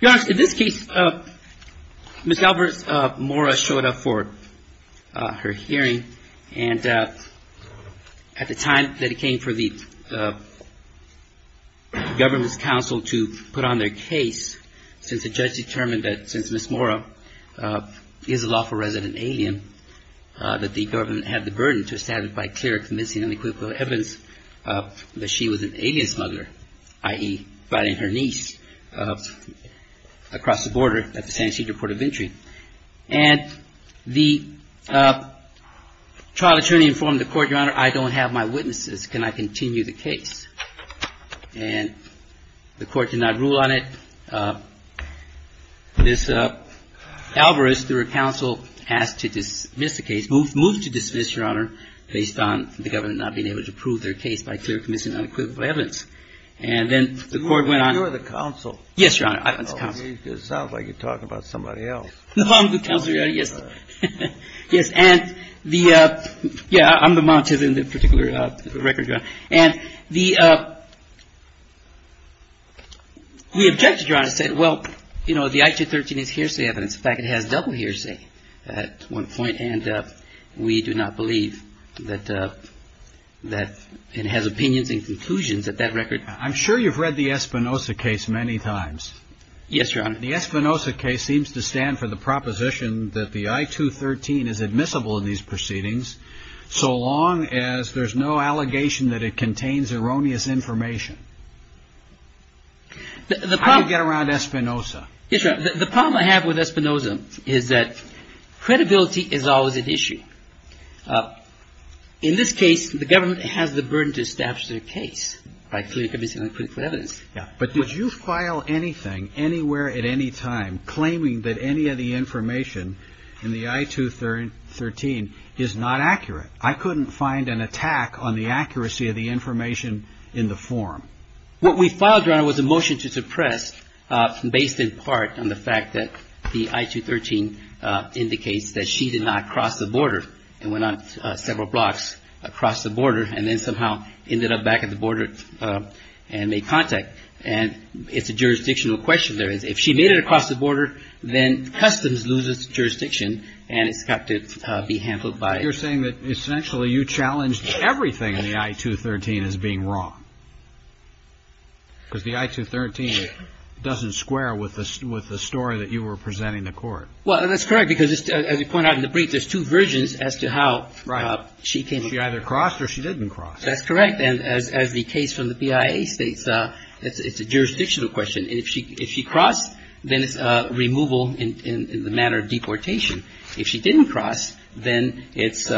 In this case, Ms. Alvarez-Mora showed up for her hearing and at the time that it came for the government's counsel to put on their case, since the judge determined that since Ms. Mora is a lawful resident alien, that the government had the burden to establish by clear, convincing, and equitable evidence that she was an alien smuggler, i.e. fighting her niece. And the trial attorney informed the court, Your Honor, I don't have my witnesses. Can I continue the case? And the court did not rule on it. Ms. Alvarez, through her counsel, asked to dismiss the case, moved to dismiss, Your Honor, based on the government not being able to prove their case by clear, convincing, and equitable evidence. And then the court went on. You're the counsel. Yes, Your Honor, I was the counsel. It sounds like you're talking about somebody else. No, I'm the counsel, Your Honor, yes. Yes, and the, yeah, I'm the monitor in the particular record, Your Honor. And the, we objected, Your Honor, said, well, you know, the I-213 is hearsay evidence. In fact, it has double hearsay at one point, and we do not believe that, that it has opinions and conclusions at that record. I'm sure you've read the Espinoza case many times. Yes, Your Honor. The Espinoza case seems to stand for the proposition that the I-213 is admissible in these proceedings so long as there's no allegation that it contains erroneous information. The problem. How do you get around Espinoza? Yes, Your Honor, the problem I have with Espinoza is that credibility is always at issue. In this case, the government has the burden to establish their case by clear, convincing, and equitable evidence. Yeah, but did you file anything anywhere at any time claiming that any of the information in the I-213 is not accurate? I couldn't find an attack on the accuracy of the information in the form. What we filed, Your Honor, was a motion to suppress based in part on the fact that the I-213 indicates that she did not cross the border and went on several blocks across the border and then somehow ended up back at the border and made contact. And it's a jurisdictional question there. If she made it across the border, then customs loses jurisdiction and it's got to be handled by. You're saying that essentially you challenged everything in the I-213 as being wrong, because the I-213 doesn't square with the story that you were presenting to court. Well, that's correct, because as you point out in the brief, there's two versions as to how she came. She either crossed or she didn't cross. That's correct. And as the case from the BIA states, it's a jurisdictional question. And if she crossed, then it's removal in the matter of deportation. If she didn't cross, then it's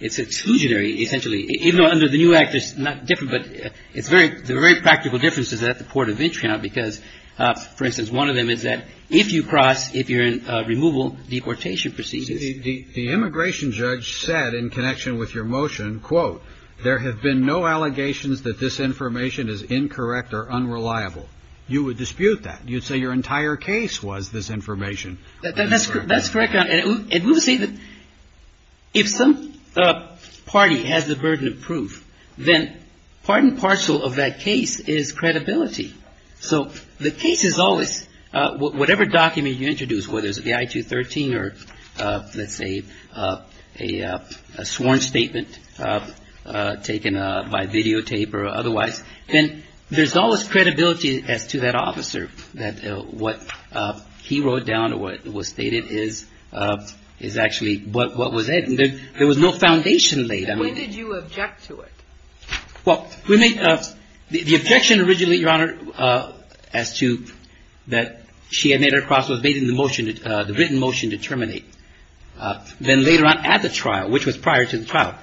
exclusionary, essentially, even though under the new act it's not different. But it's very practical differences at the port of entry now because, for instance, one of them is that if you cross, if you're in removal, deportation proceeds. The immigration judge said in connection with your motion, quote, there have been no allegations that this information is incorrect or unreliable. You would dispute that. You'd say your entire case was this information. That's correct. And we would say that if some party has the burden of proof, then part and parcel of that case is credibility. So the case is always whatever document you introduce, whether it's the I-213 or, let's say, a sworn statement taken by videotape or otherwise, then there's always credibility as to that officer, that what he wrote down or what was stated is actually what was in it. There was no foundation laid. And when did you object to it? Well, the objection originally, Your Honor, as to that she had made her cross was based on the motion, the written motion to terminate. Then later on at the trial, which was prior to the trial,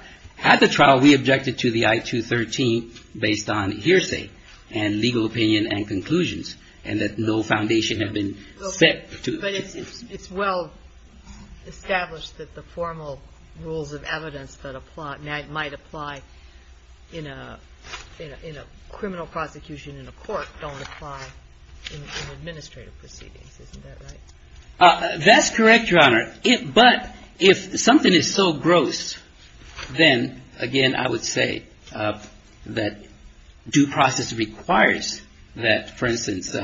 at the trial we objected to the I-213 based on hearsay and legal opinion and conclusions, and that no foundation had been set to it. But it's well established that the formal rules of evidence that might apply in a criminal prosecution, in a court, don't apply in administrative proceedings. Isn't that right? That's correct, Your Honor. But if something is so gross, then, again, I would say that due process requires that, for instance,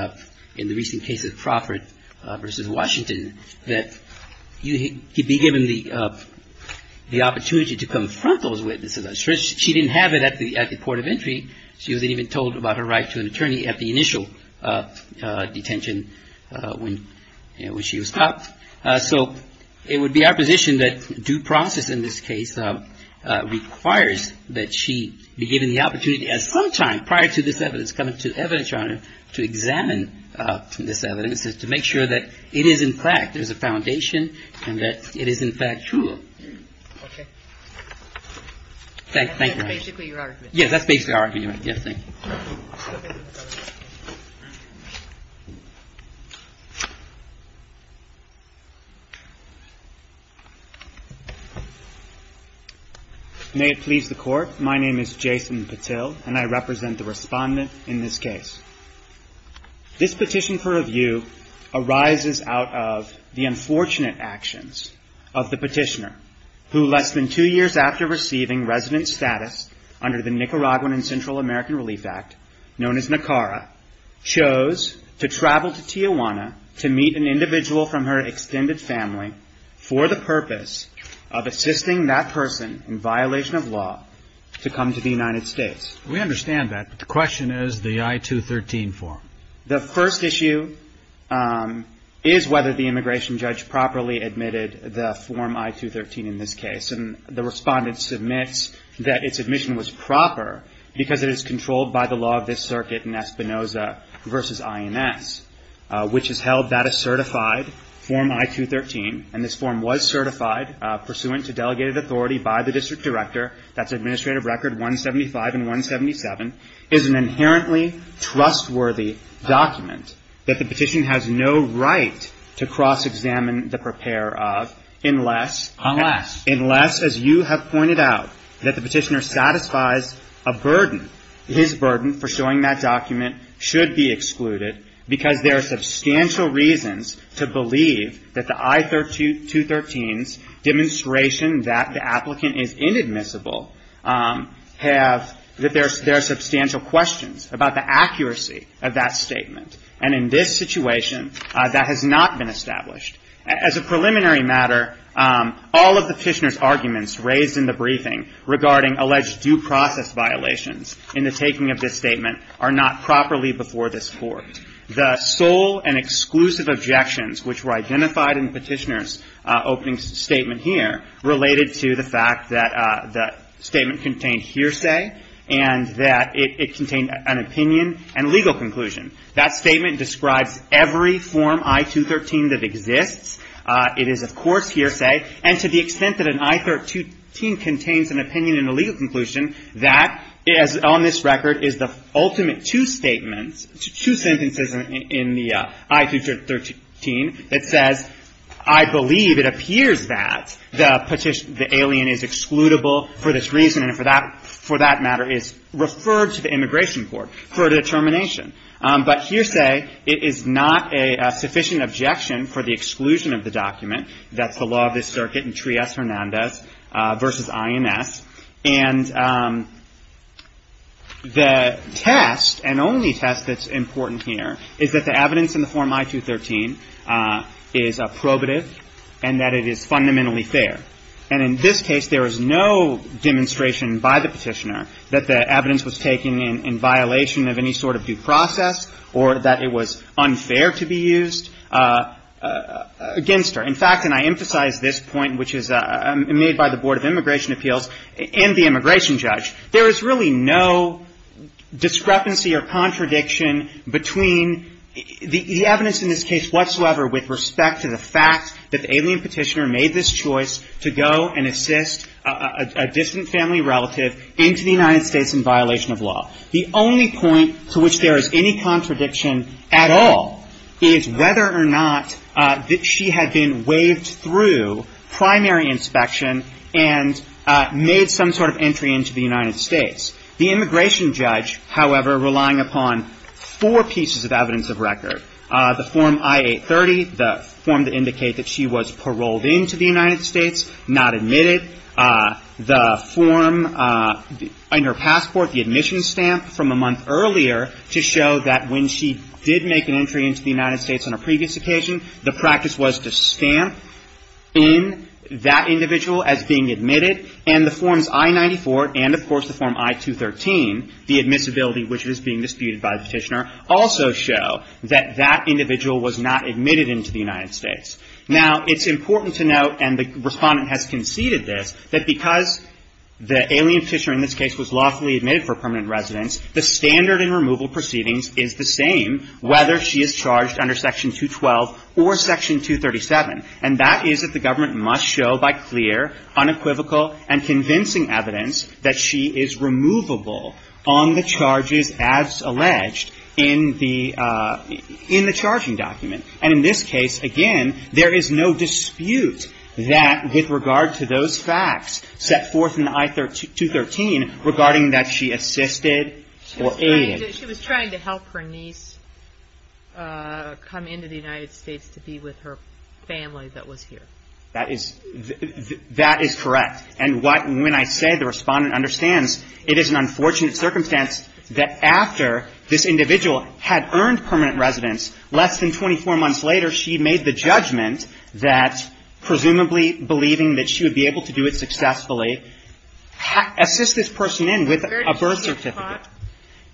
in the recent case of Crawford v. Washington, that he be given the opportunity to confront those witnesses. She didn't have it at the port of entry. She wasn't even told about her right to an attorney at the initial detention when she was stopped. So it would be our position that due process in this case requires that she be given the opportunity at some time prior to this evidence coming to the evidence, Your Honor, to examine this evidence, to make sure that it is, in fact, there's a foundation and that it is, in fact, true. Okay. Thank you, Your Honor. That's basically your argument. Yes, that's basically our argument. Yes, thank you. May it please the Court. My name is Jason Patil, and I represent the Respondent in this case. This petition for review arises out of the unfortunate actions of the petitioner, who less than two years after receiving resident status under the Nicaraguan and Central American Relief Act, known as NACARA, chose to travel to Tijuana to meet an individual from her extended family for the purpose of assisting that person in violation of law to come to the United States. We understand that, but the question is the I-213 form. The first issue is whether the immigration judge properly admitted the Form I-213 in this case, and the Respondent submits that its admission was proper because it is controlled by the law of this circuit in Espinoza v. INS, which has held that a certified Form I-213, and this form was certified pursuant to delegated authority by the district director. That's Administrative Record 175 and 177, is an inherently trustworthy document that the petitioner has no right to cross-examine the preparer of, unless... Unless. Unless, as you have pointed out, that the petitioner satisfies a burden. His burden for showing that document should be excluded, because there are substantial reasons to believe that the I-213's demonstration that the applicant is inadmissible have, that there are substantial questions about the accuracy of that statement, and in this situation, that has not been established. As a preliminary matter, all of the petitioner's arguments raised in the briefing regarding alleged due process violations in the taking of this statement are not properly before this Court. The sole and exclusive objections which were identified in the petitioner's opening statement here related to the fact that the statement contained hearsay, and that it contained an opinion and legal conclusion. That statement describes every Form I-213 that exists. It is, of course, hearsay. And to the extent that an I-213 contains an opinion and a legal conclusion, that is, on this record, is the ultimate two statements, two sentences in the I-213, that says, I believe it appears that the alien is excludable for this reason, and for that matter is referred to the Immigration Court for determination. But hearsay, it is not a sufficient objection for the exclusion of the document. That's the law of this circuit in Trias-Hernandez v. IMS. And the test, and only test that's important here, is that the evidence in the Form I-213 is probative and that it is fundamentally fair. And in this case, there is no demonstration by the petitioner that the evidence was taken in violation of any sort of due process or that it was unfair to be used against her. In fact, and I emphasize this point, which is made by the Board of Immigration Appeals and the immigration judge, there is really no discrepancy or contradiction between the evidence in this case whatsoever with respect to the fact that the alien petitioner made this choice to go and assist a distant family relative into the United States in violation of law. The only point to which there is any contradiction at all is whether or not she had been waved through primary inspection and made some sort of entry into the United States. The immigration judge, however, relying upon four pieces of evidence of record, the Form I-830, the form to indicate that she was paroled into the United States, not admitted, the form in her passport, the admission stamp from a month earlier to show that when she did make an entry into the United States on a previous occasion, the practice was to stamp in that individual as being admitted, and the Forms I-94 and, of course, the Form I-213, the admissibility which was being disputed by the petitioner, also show that that individual was not admitted into the United States. Now, it's important to note, and the Respondent has conceded this, that because the alien petitioner in this case was lawfully admitted for permanent residence, the standard in removal proceedings is the same whether she is charged under Section 212 or Section 237. And that is that the government must show by clear, unequivocal, and convincing evidence that she is removable on the charges as alleged in the charging document. And in this case, again, there is no dispute that with regard to those facts set forth in I-213 regarding that she assisted or aided. She was trying to help her niece come into the United States to be with her family that was here. That is correct. And when I say the Respondent understands, it is an unfortunate circumstance that after this individual had earned permanent residence, less than 24 months later she made the judgment that, presumably believing that she would be able to do it successfully, assist this person in with a birth certificate.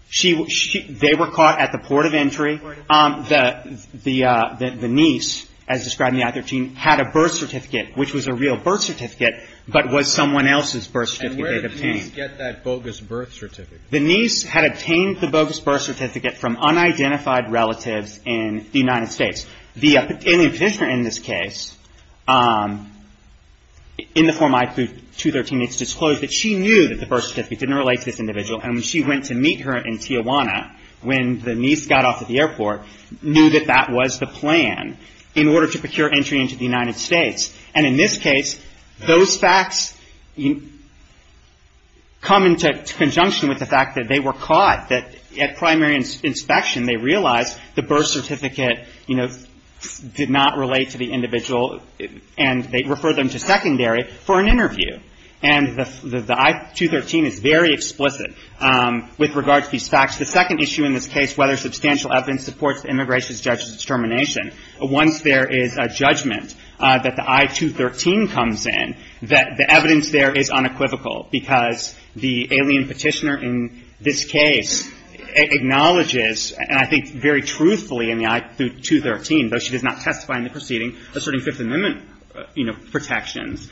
She was caught? They were caught at the port of entry. The niece, as described in I-13, had a birth certificate, which was a real birth certificate, but was someone else's birth certificate that they obtained. And where did the niece get that bogus birth certificate? The niece had obtained the bogus birth certificate from unidentified relatives in the United States. The alien petitioner in this case, in the form I-213, it's disclosed that she knew that the birth certificate didn't relate to this individual, and when she went to meet her in Tijuana, when the niece got off at the airport, knew that that was the plan in order to procure entry into the United States. And in this case, those facts come into conjunction with the fact that they were caught, that at primary inspection they realized the birth certificate did not relate to the individual, and they referred them to secondary for an interview. And the I-213 is very explicit with regard to these facts. The second issue in this case, whether substantial evidence supports the immigration judge's determination, once there is a judgment that the I-213 comes in, the evidence there is unequivocal because the alien petitioner in this case acknowledges, and I think very truthfully in the I-213, though she does not testify in the proceeding asserting Fifth Amendment protections,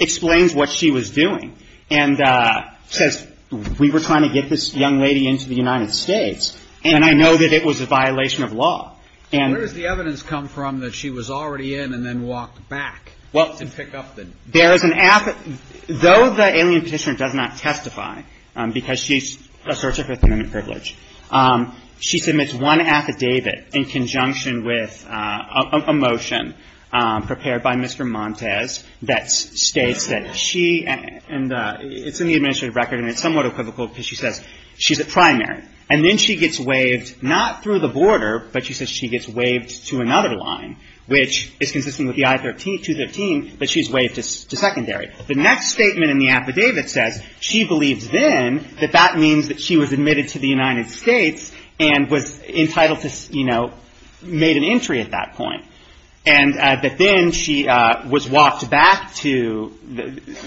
explains what she was doing and says, we were trying to get this young lady into the United States, and I know that it was a violation of law. And where does the evidence come from that she was already in and then walked back to pick up the death certificate? Though the alien petitioner does not testify because she asserts her Fifth Amendment privilege, she submits one affidavit in conjunction with a motion prepared by Mr. Montes that states that she, and it's in the administrative record, and it's somewhat equivocal because she says she's a primary, and then she gets waived not through the border, but she says she gets waived to another line, which is consistent with the I-213, but she's waived to secondary. The next statement in the affidavit says she believes then that that means that she was admitted to the United States and was entitled to, you know, made an entry at that point. And that then she was walked back to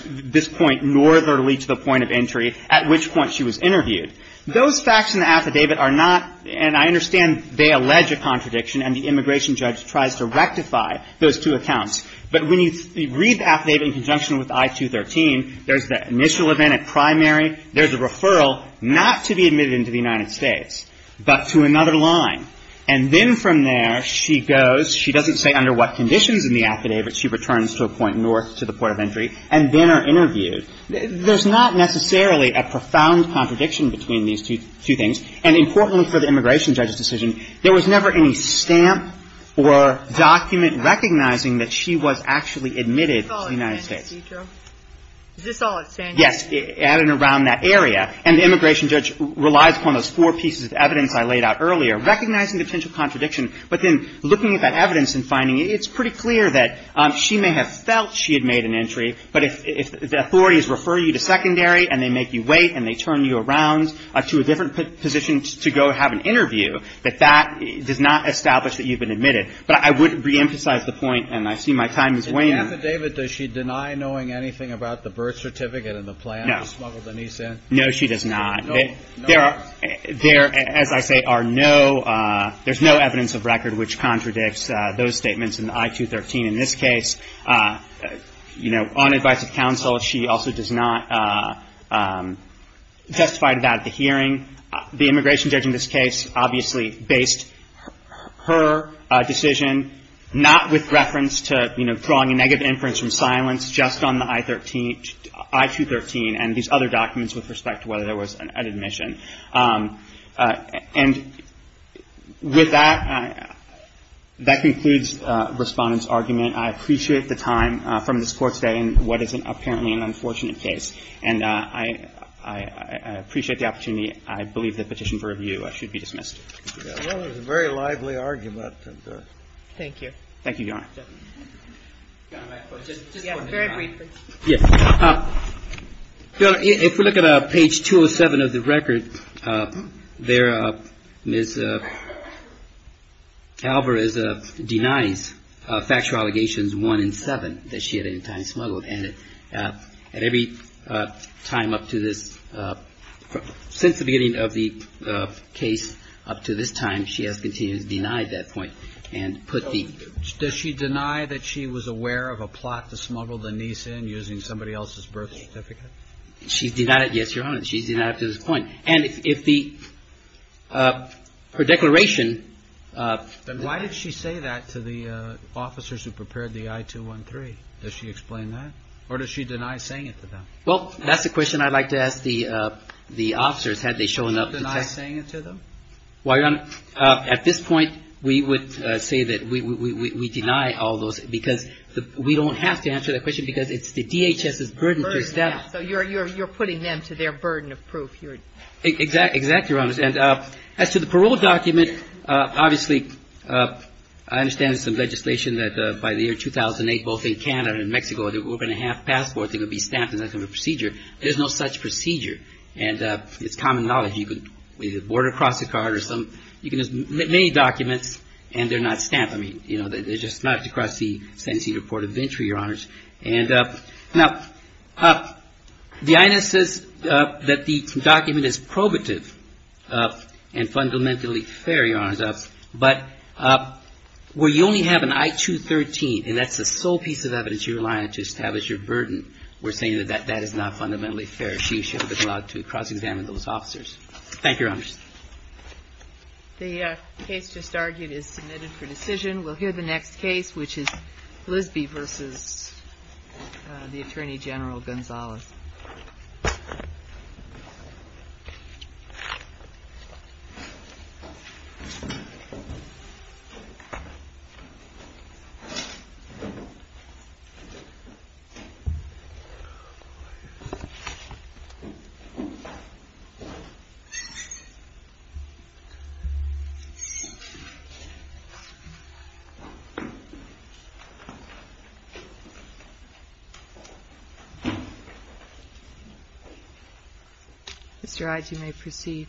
this point northerly to the point of entry, at which point she was interviewed. Those facts in the affidavit are not, and I understand they allege a contradiction, and the immigration judge tries to rectify those two accounts. But when you read the affidavit in conjunction with I-213, there's the initial event at primary, there's a referral not to be admitted into the United States, but to another line. And then from there, she goes, she doesn't say under what conditions in the affidavit, she returns to a point north to the point of entry, and then are interviewed. There's not necessarily a profound contradiction between these two things. And importantly for the immigration judge's decision, there was never any stamp or document recognizing that she was actually admitted to the United States. Kagan. Is this all at San Diego? Yes. At and around that area. And the immigration judge relies upon those four pieces of evidence I laid out earlier, recognizing the potential contradiction, but then looking at that evidence and finding it, it's pretty clear that she may have felt she had made an entry, but if the authorities refer you to secondary and they make you wait and they turn you around to a different position to go have an interview, that that does not establish that you've been admitted. But I would reemphasize the point, and I see my time is waning. In the affidavit, does she deny knowing anything about the birth certificate and the plan to smuggle Denise in? No, she does not. There are, as I say, are no, there's no evidence of record which contradicts those statements in the I-213. In this case, you know, on advice of counsel, she also does not testify to that at the hearing. The immigration judge in this case obviously based her decision not with reference to, you know, drawing a negative inference from silence just on the I-213 and these other documents with respect to whether there was an admission. And with that, that concludes Respondent's argument. I appreciate the time from this Court today in what is apparently an unfortunate case, and I appreciate the opportunity. I believe the petition for review should be dismissed. It was a very lively argument. Thank you. Thank you, Your Honor. Yes, very briefly. Yes. If we look at page 207 of the record, there Ms. Alvarez denies factual allegations one and seven that she had at any time smuggled. And at every time up to this, since the beginning of the case up to this time, she has continued to deny that point and put the Does she deny that she was aware of a plot to smuggle the niece in using somebody else's birth certificate? She's denied it. Yes, Your Honor. She's denied up to this point. And if the her declaration Then why did she say that to the officers who prepared the I-213? Does she explain that? Or does she deny saying it to them? Well, that's the question I'd like to ask the officers had they shown up to testify. Does she deny saying it to them? Well, Your Honor, at this point, we would say that we deny all those because we don't have to answer that question because it's the DHS's burden to establish So you're putting them to their burden of proof. Exactly, Your Honor. And as to the parole document, obviously, I understand there's some legislation that by the year 2008, both in Canada and Mexico, that we're going to have passports that are going to be stamped as a procedure. There's no such procedure. And it's common knowledge. You can either border cross a card or some You can use many documents and they're not stamped. I mean, you know, they're just not to cross the sentencing report of entry, Your Honors. And now the INS says that the document is probative and fundamentally fair, Your Honors. But where you only have an I-213, and that's the sole piece of evidence you rely on to establish your burden, we're saying that that is not fundamentally fair. She should have been allowed to cross-examine those officers. Thank you, Your Honors. The case just argued is submitted for decision. We'll hear the next case, which is Lisby versus the Attorney General Gonzalez. Mr. Ige, you may proceed.